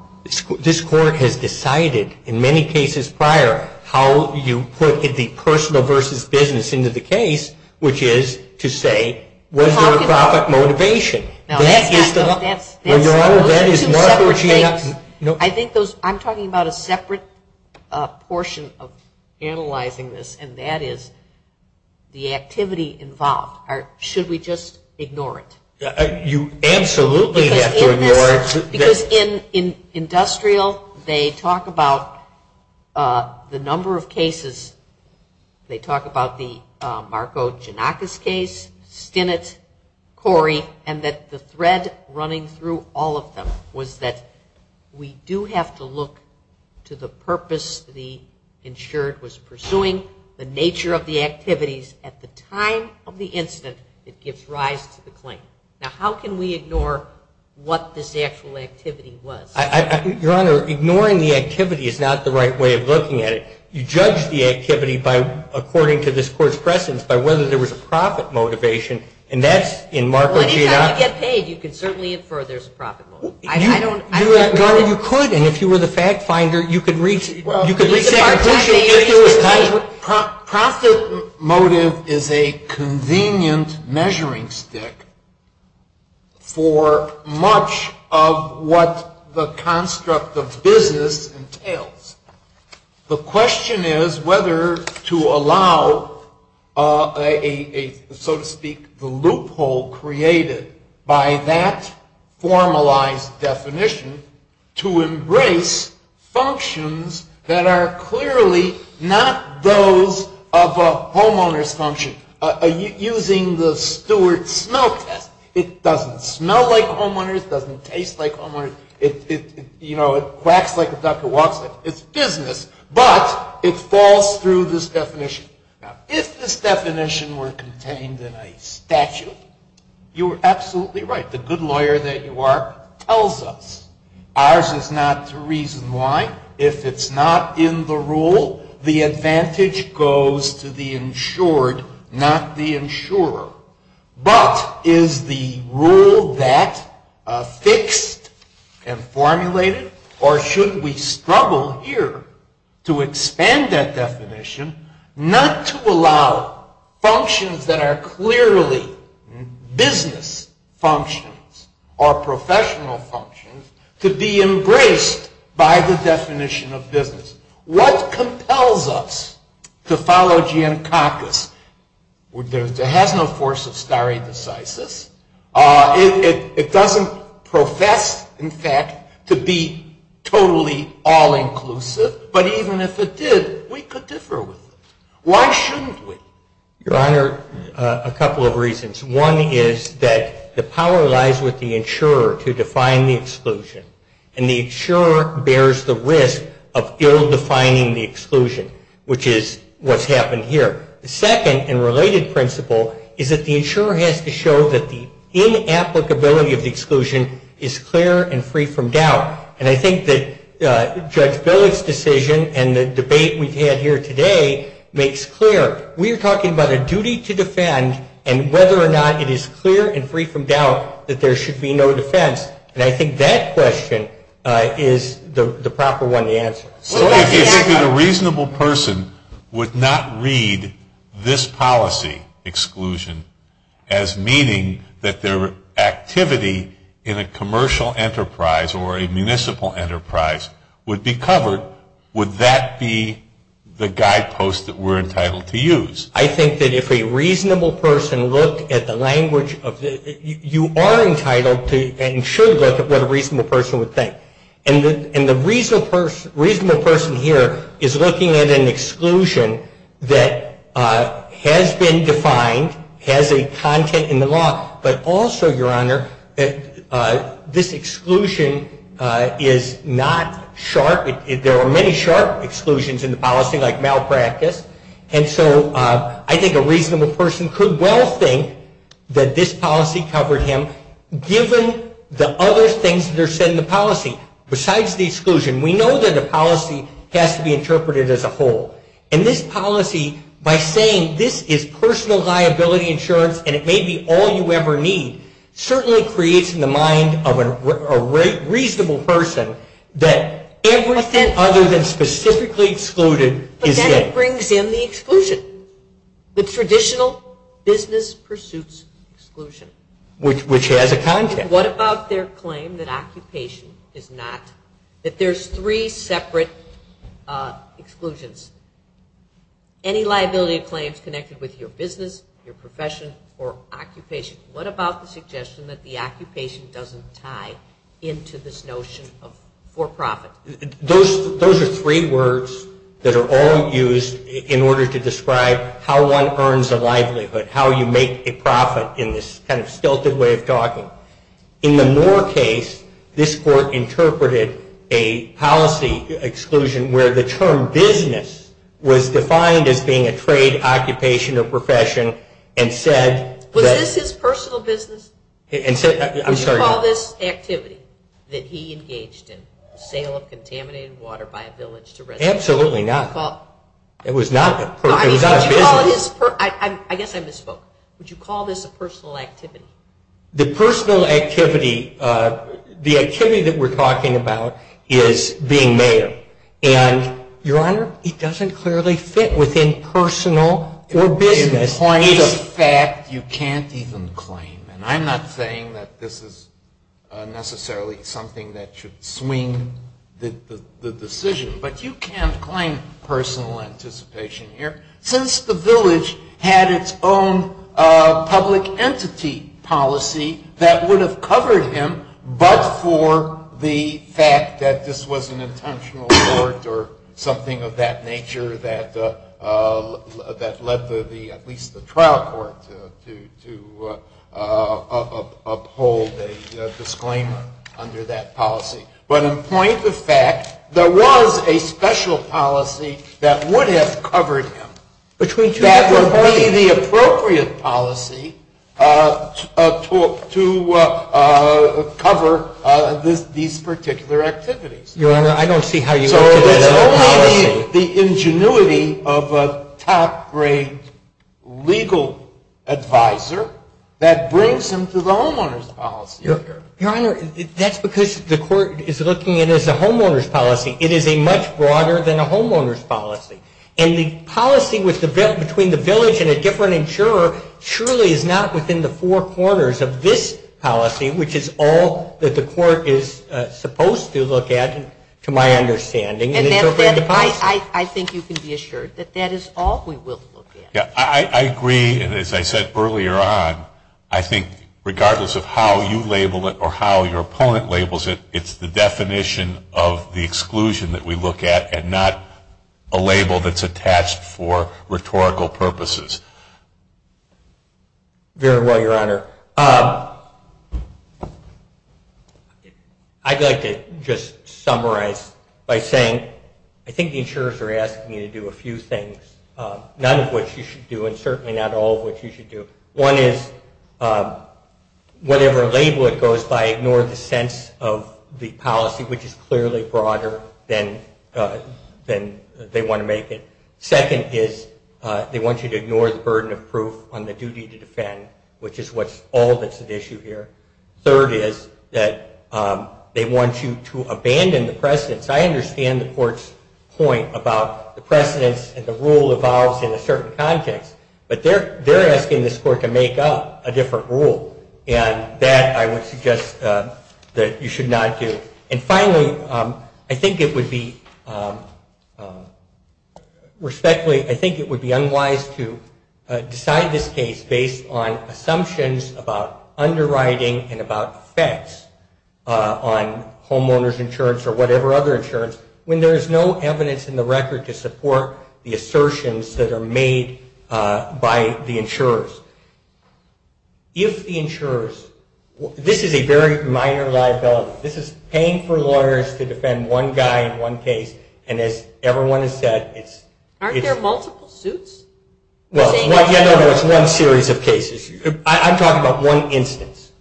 This Court has decided in many cases prior how you put the personal versus business into the case, which is to say was there a profit motivation? Now, that's two separate things. I'm talking about a separate portion of analyzing this, and that is the activity involved. Should we just ignore it? You absolutely have to ignore it. Because in industrial, they talk about the number of cases. They talk about the Marco Giannakis case, Stinnett, Corey, and that the thread running through all of them was that we do have to look to the purpose the insured was pursuing, the nature of the activities at the time of the incident that gives rise to the claim. Now, how can we ignore what this actual activity was? Your Honor, ignoring the activity is not the right way of looking at it. You judge the activity according to this Court's precedence by whether there was a profit motivation, and that's in Marco Giannakis. Well, any time you get paid, you can certainly infer there's a profit motive. No, you could, and if you were the fact finder, you could reach it. Profit motive is a convenient measuring stick for much of what the construct of business entails. The question is whether to allow, so to speak, the loophole created by that formalized definition to embrace functions that are clearly not those of a homeowner's function. Using the Stewart smell test, it doesn't smell like homeowners, it doesn't taste like homeowners. It quacks like a duck that walks it. It's business, but it falls through this definition. Now, if this definition were contained in a statute, you are absolutely right. The good lawyer that you are tells us. Ours is not to reason why. If it's not in the rule, the advantage goes to the insured, not the insurer. But is the rule that fixed and formulated? Or should we struggle here to expand that definition not to allow functions that are clearly business functions or professional functions to be embraced by the definition of business? What compels us to follow Giancacchus? There has no force of stare decisis. It doesn't profess, in fact, to be totally all-inclusive. But even if it did, we could differ with it. Why shouldn't we? Your Honor, a couple of reasons. One is that the power lies with the insurer to define the exclusion. And the insurer bears the risk of ill-defining the exclusion, which is what's happened here. The second and related principle is that the insurer has to show that the inapplicability of the exclusion is clear and free from doubt. And I think that Judge Billig's decision and the debate we've had here today makes clear. We are talking about a duty to defend and whether or not it is clear and free from doubt that there should be no defense. And I think that question is the proper one to answer. So if a reasonable person would not read this policy exclusion as meaning that their activity in a commercial enterprise or a municipal enterprise would be covered, would that be the guidepost that we're entitled to use? I think that if a reasonable person looked at the language of this, you are entitled to and should look at what a reasonable person would think. And the reasonable person here is looking at an exclusion that has been defined, has a content in the law. But also, Your Honor, this exclusion is not sharp. There are many sharp exclusions in the policy, like malpractice. And so I think a reasonable person could well think that this policy covered him, given the other things that are said in the policy besides the exclusion. We know that a policy has to be interpreted as a whole. And this policy, by saying this is personal liability insurance and it may be all you ever need, certainly creates in the mind of a reasonable person that everything other than specifically excluded is it. And that brings in the exclusion, the traditional business pursuits exclusion. Which has a content. What about their claim that occupation is not, that there's three separate exclusions? Any liability claims connected with your business, your profession, or occupation. What about the suggestion that the occupation doesn't tie into this notion of for-profit? Those are three words that are all used in order to describe how one earns a livelihood. How you make a profit in this kind of stilted way of talking. In the Moore case, this court interpreted a policy exclusion where the term business was defined as being a trade, occupation, or profession, and said. Was this his personal business? I'm sorry. Would you call this activity that he engaged in? Sale of contaminated water by a village to rescue people. Absolutely not. It was not a business. I guess I misspoke. Would you call this a personal activity? The personal activity, the activity that we're talking about is being mayor. And, Your Honor, it doesn't clearly fit within personal or business. It's a point of fact you can't even claim. And I'm not saying that this is necessarily something that should swing the decision. But you can't claim personal anticipation here since the village had its own public entity policy that would have covered him but for the fact that this was an intentional court or something of that nature that led at least the trial court to uphold a disclaimer under that policy. But in point of fact, there was a special policy that would have covered him. That would be the appropriate policy to cover these particular activities. Your Honor, I don't see how you would do that. So it is only the ingenuity of a top grade legal advisor that brings him to the homeowners policy. Your Honor, that's because the court is looking at it as a homeowners policy. It is a much broader than a homeowners policy. And the policy between the village and a different insurer surely is not within the four corners of this policy, which is all that the court is supposed to look at to my understanding. I think you can be assured that that is all we will look at. I agree. As I said earlier on, I think regardless of how you label it or how your opponent labels it, it's the definition of the exclusion that we look at and not a label that's attached for rhetorical purposes. Very well, Your Honor. I'd like to just summarize by saying I think the insurers are asking you to do a few things, none of which you should do and certainly not all of which you should do. One is whatever label it goes by, ignore the sense of the policy, which is clearly broader than they want to make it. Second is they want you to ignore the burden of proof on the duty to defend, which is all that's at issue here. Third is that they want you to abandon the precedents. I understand the court's point about the precedents and the rule evolves in a certain context, but they're asking this court to make up a different rule. And that I would suggest that you should not do. And finally, I think it would be unwise to decide this case based on assumptions about underwriting and about effects on homeowners insurance or whatever other insurance when there is no evidence in the record to support the assertions that are made by the insurers. If the insurers, this is a very minor liability. This is paying for lawyers to defend one guy in one case. And as everyone has said, it's... Aren't there multiple suits? No, it's one series of cases. I'm talking about one instance.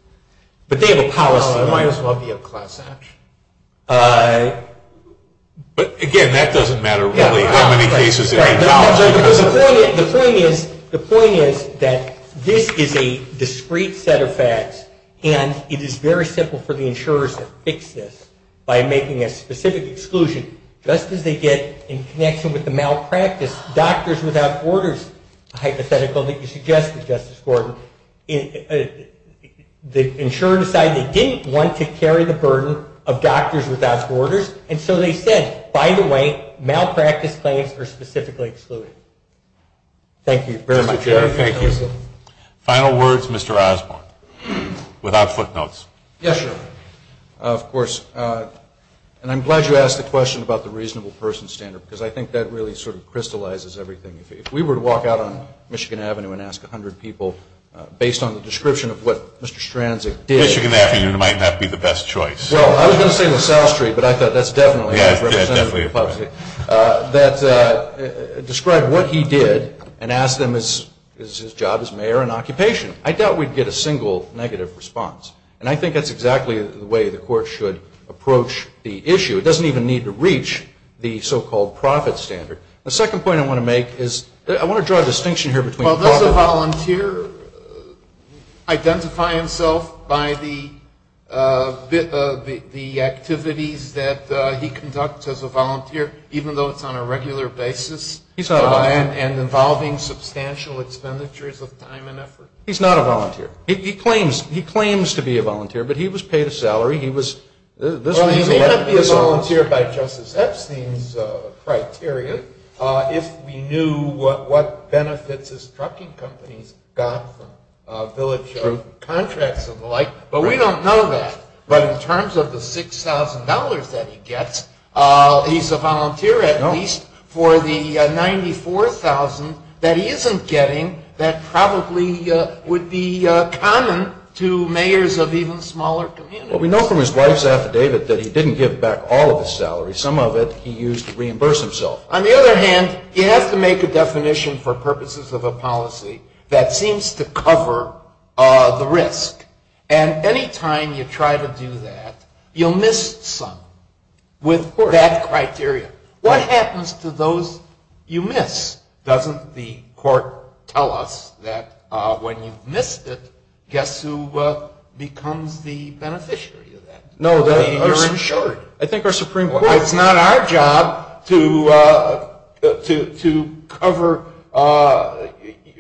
But they have a policy... Might as well be a class action. But again, that doesn't matter really how many cases... The point is that this is a discrete set of facts and it is very simple for the insurers to fix this by making a specific exclusion, just as they did in connection with the malpractice doctors without orders hypothetical that you suggested, Justice Gordon. The insurer decided they didn't want to carry the burden of doctors without orders, and so they said, by the way, malpractice claims are specifically excluded. Thank you very much. Thank you. Final words, Mr. Osborne, without footnotes. Yes, Your Honor. Of course. And I'm glad you asked the question about the reasonable person standard because I think that really sort of crystallizes everything. If we were to walk out on Michigan Avenue and ask 100 people, based on the description of what Mr. Stranzik did... Michigan Avenue might not be the best choice. Well, I was going to say LaSalle Street, but I thought that's definitely how it's represented. Yeah, definitely. Describe what he did and ask them, is his job as mayor an occupation? I doubt we'd get a single negative response, and I think that's exactly the way the Court should approach the issue. It doesn't even need to reach the so-called profit standard. The second point I want to make is I want to draw a distinction here between... Well, does a volunteer identify himself by the activities that he conducts as a volunteer, even though it's on a regular basis and involving substantial expenditures of time and effort? He's not a volunteer. He claims to be a volunteer, but he was paid a salary. Well, he may not be a volunteer by Justice Epstein's criteria, if we knew what benefits his trucking companies got from village contracts and the like, but we don't know that. But in terms of the $6,000 that he gets, he's a volunteer at least for the $94,000 that he isn't getting that probably would be common to mayors of even smaller communities. Well, we know from his wife's affidavit that he didn't give back all of his salary. Some of it he used to reimburse himself. On the other hand, you have to make a definition for purposes of a policy that seems to cover the risk, and any time you try to do that, you'll miss some with that criteria. What happens to those you miss? Doesn't the court tell us that when you've missed it, guess who becomes the beneficiary of that? No. You're insured. I think our Supreme Court. It's not our job to cover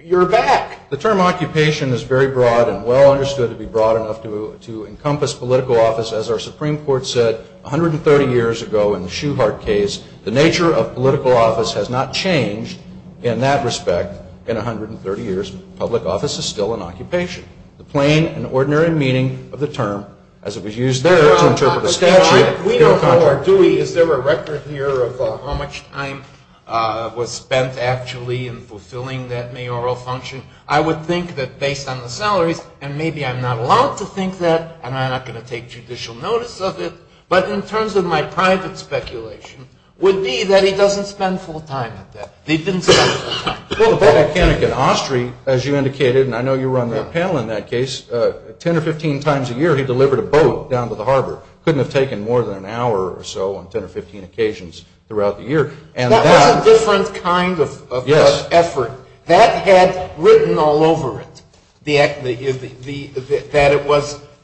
your back. The term occupation is very broad and well understood to be broad enough to encompass political office. As our Supreme Court said 130 years ago in the Shuhart case, the nature of political office has not changed in that respect in 130 years. Public office is still an occupation. The plain and ordinary meaning of the term as it was used there to interpret the statute. We don't know, do we? Is there a record here of how much time was spent actually in fulfilling that mayoral function? I would think that based on the salaries, and maybe I'm not allowed to think that, and I'm not going to take judicial notice of it, but in terms of my private speculation, would be that he doesn't spend full-time at that. They didn't spend full-time. Well, back in Austria, as you indicated, and I know you run that panel in that case, 10 or 15 times a year he delivered a boat down to the harbor. Couldn't have taken more than an hour or so on 10 or 15 occasions throughout the year. That was a different kind of effort. That had written all over it,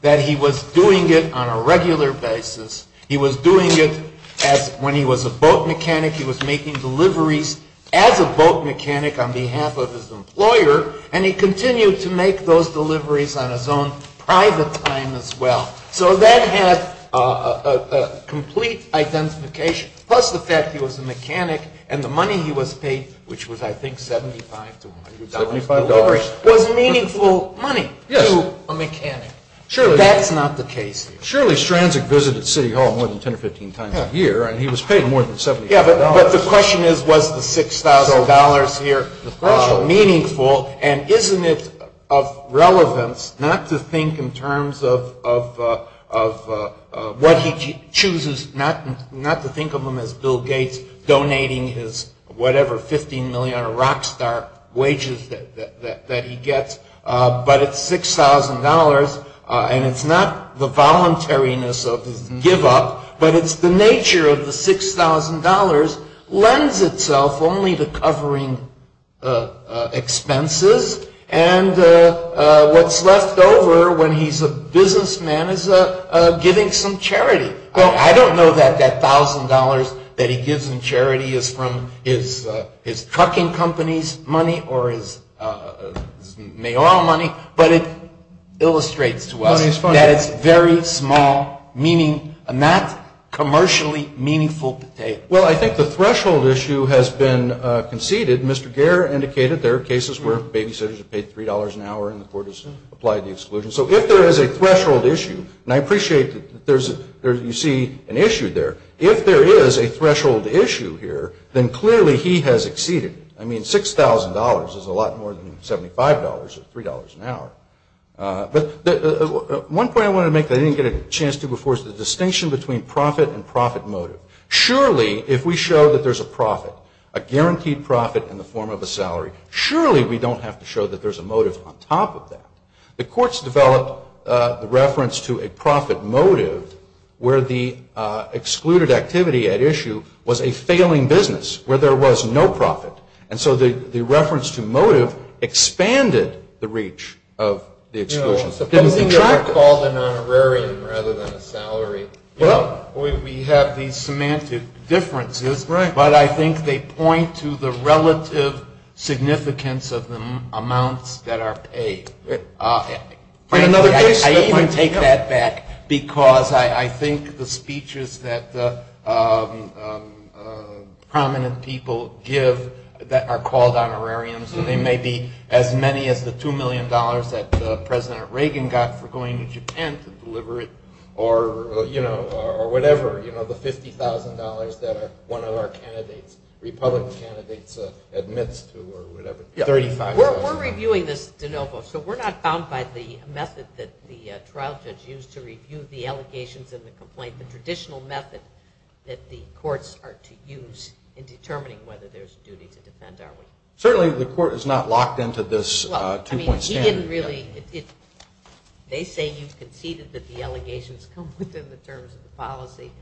that he was doing it on a regular basis. He was doing it as when he was a boat mechanic, he was making deliveries as a boat mechanic on behalf of his employer, and he continued to make those deliveries on his own private time as well. So that had a complete identification, plus the fact he was a mechanic and the money he was paid, which was I think $75 to $100 in delivery, was meaningful money to a mechanic. That's not the case here. Surely Stransick visited City Hall more than 10 or 15 times a year, and he was paid more than $75. Yeah, but the question is, was the $6,000 here meaningful, and isn't it of relevance not to think in terms of what he chooses, not to think of him as Bill Gates donating his whatever $15 million of rock star wages that he gets, but it's $6,000, and it's not the voluntariness of his give up, but it's the nature of the $6,000 lends itself only to covering expenses, and what's left over when he's a businessman is giving some charity. I don't know that that $1,000 that he gives in charity is from his trucking company's money or his mayoral money, but it illustrates to us that it's very small, meaning not commercially meaningful to take. Well, I think the threshold issue has been conceded. Mr. Gair indicated there are cases where babysitters are paid $3 an hour, and the Court has applied the exclusion, so if there is a threshold issue, and I appreciate that you see an issue there, if there is a threshold issue here, then clearly he has exceeded it. I mean, $6,000 is a lot more than $75 or $3 an hour, but one point I wanted to make that I didn't get a chance to before is the distinction between profit and profit motive. Surely, if we show that there's a profit, a guaranteed profit in the form of a salary, surely we don't have to show that there's a motive on top of that. The Court's developed the reference to a profit motive where the excluded activity at issue was a failing business where there was no profit, and so the reference to motive expanded the reach of the exclusion. I don't think they were called an honorarium rather than a salary. We have these semantic differences, but I think they point to the relative significance of the amounts that are paid. I even take that back because I think the speeches that prominent people give that are called honorariums, they may be as many as the $2 million that President Reagan got for going to Japan to deliver it or whatever, the $50,000 that one of our Republican candidates admits to or whatever. We're reviewing this de novo, so we're not bound by the method that the trial judge used to review the allegations and the complaint, the traditional method that the courts are to use in determining whether there's a duty to defend, are we? Certainly the Court is not locked into this two-point standard. They say you've conceded that the allegations come within the terms of the policy.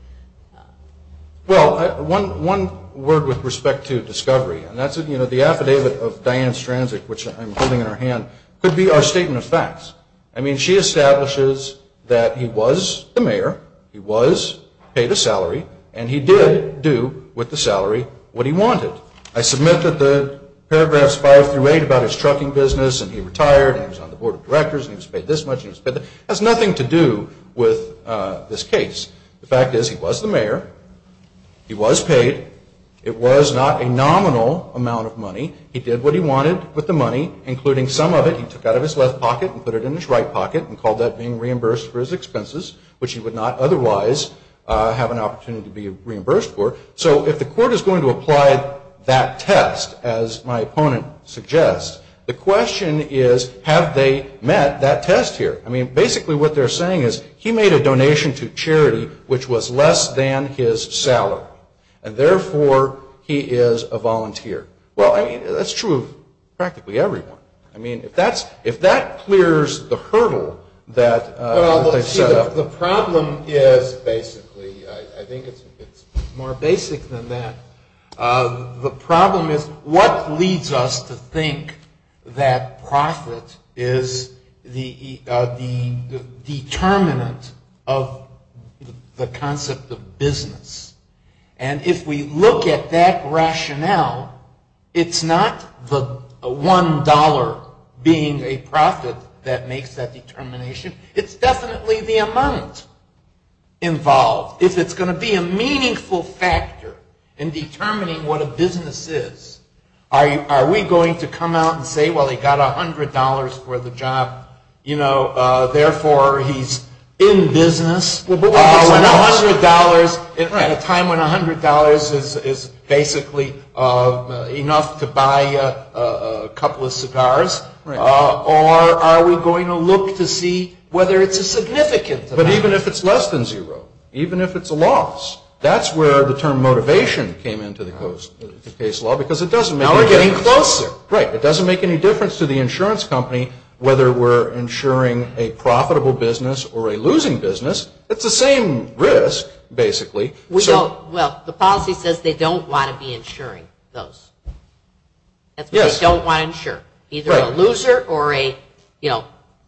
Well, one word with respect to discovery, and that's the affidavit of Diane Stranzik, which I'm holding in her hand, could be our statement of facts. I mean, she establishes that he was the mayor, he was paid a salary, and he did do with the salary what he wanted. I submit that the paragraphs 5 through 8 about his trucking business and he retired and he was on the board of directors and he was paid this much and he was paid that has nothing to do with this case. The fact is he was the mayor, he was paid, it was not a nominal amount of money. He did what he wanted with the money, including some of it he took out of his left pocket and put it in his right pocket and called that being reimbursed for his expenses, which he would not otherwise have an opportunity to be reimbursed for. So if the Court is going to apply that test, as my opponent suggests, the question is have they met that test here? I mean, basically what they're saying is he made a donation to charity which was less than his salary, and therefore he is a volunteer. Well, I mean, that's true of practically everyone. I mean, if that clears the hurdle that they've set up. The problem is basically, I think it's more basic than that, the problem is what leads us to think that profit is the determinant of the concept of business. And if we look at that rationale, it's not the $1 being a profit that makes that determination. It's definitely the amount involved. If it's going to be a meaningful factor in determining what a business is, are we going to come out and say, well, he got $100 for the job, therefore he's in business at a time when $100 is basically enough to buy a couple of cigars? Or are we going to look to see whether it's a significant amount? But even if it's less than zero, even if it's a loss, that's where the term motivation came into the case law, because it doesn't make any difference. It makes no difference to the insurance company whether we're insuring a profitable business or a losing business. It's the same risk, basically. Well, the policy says they don't want to be insuring those. That's what they don't want to insure, either a loser or a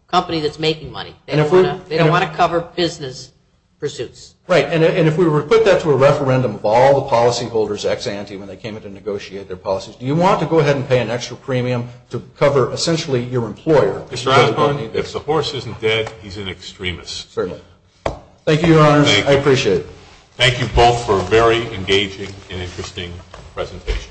company that's making money. They don't want to cover business pursuits. Right, and if we were to put that to a referendum of all the policyholders ex-ante when they came in to negotiate their policies, do you want to go ahead and pay an extra premium to cover, essentially, your employer? If the horse isn't dead, he's an extremist. Thank you, Your Honors. I appreciate it. Thank you both for a very engaging and interesting presentation.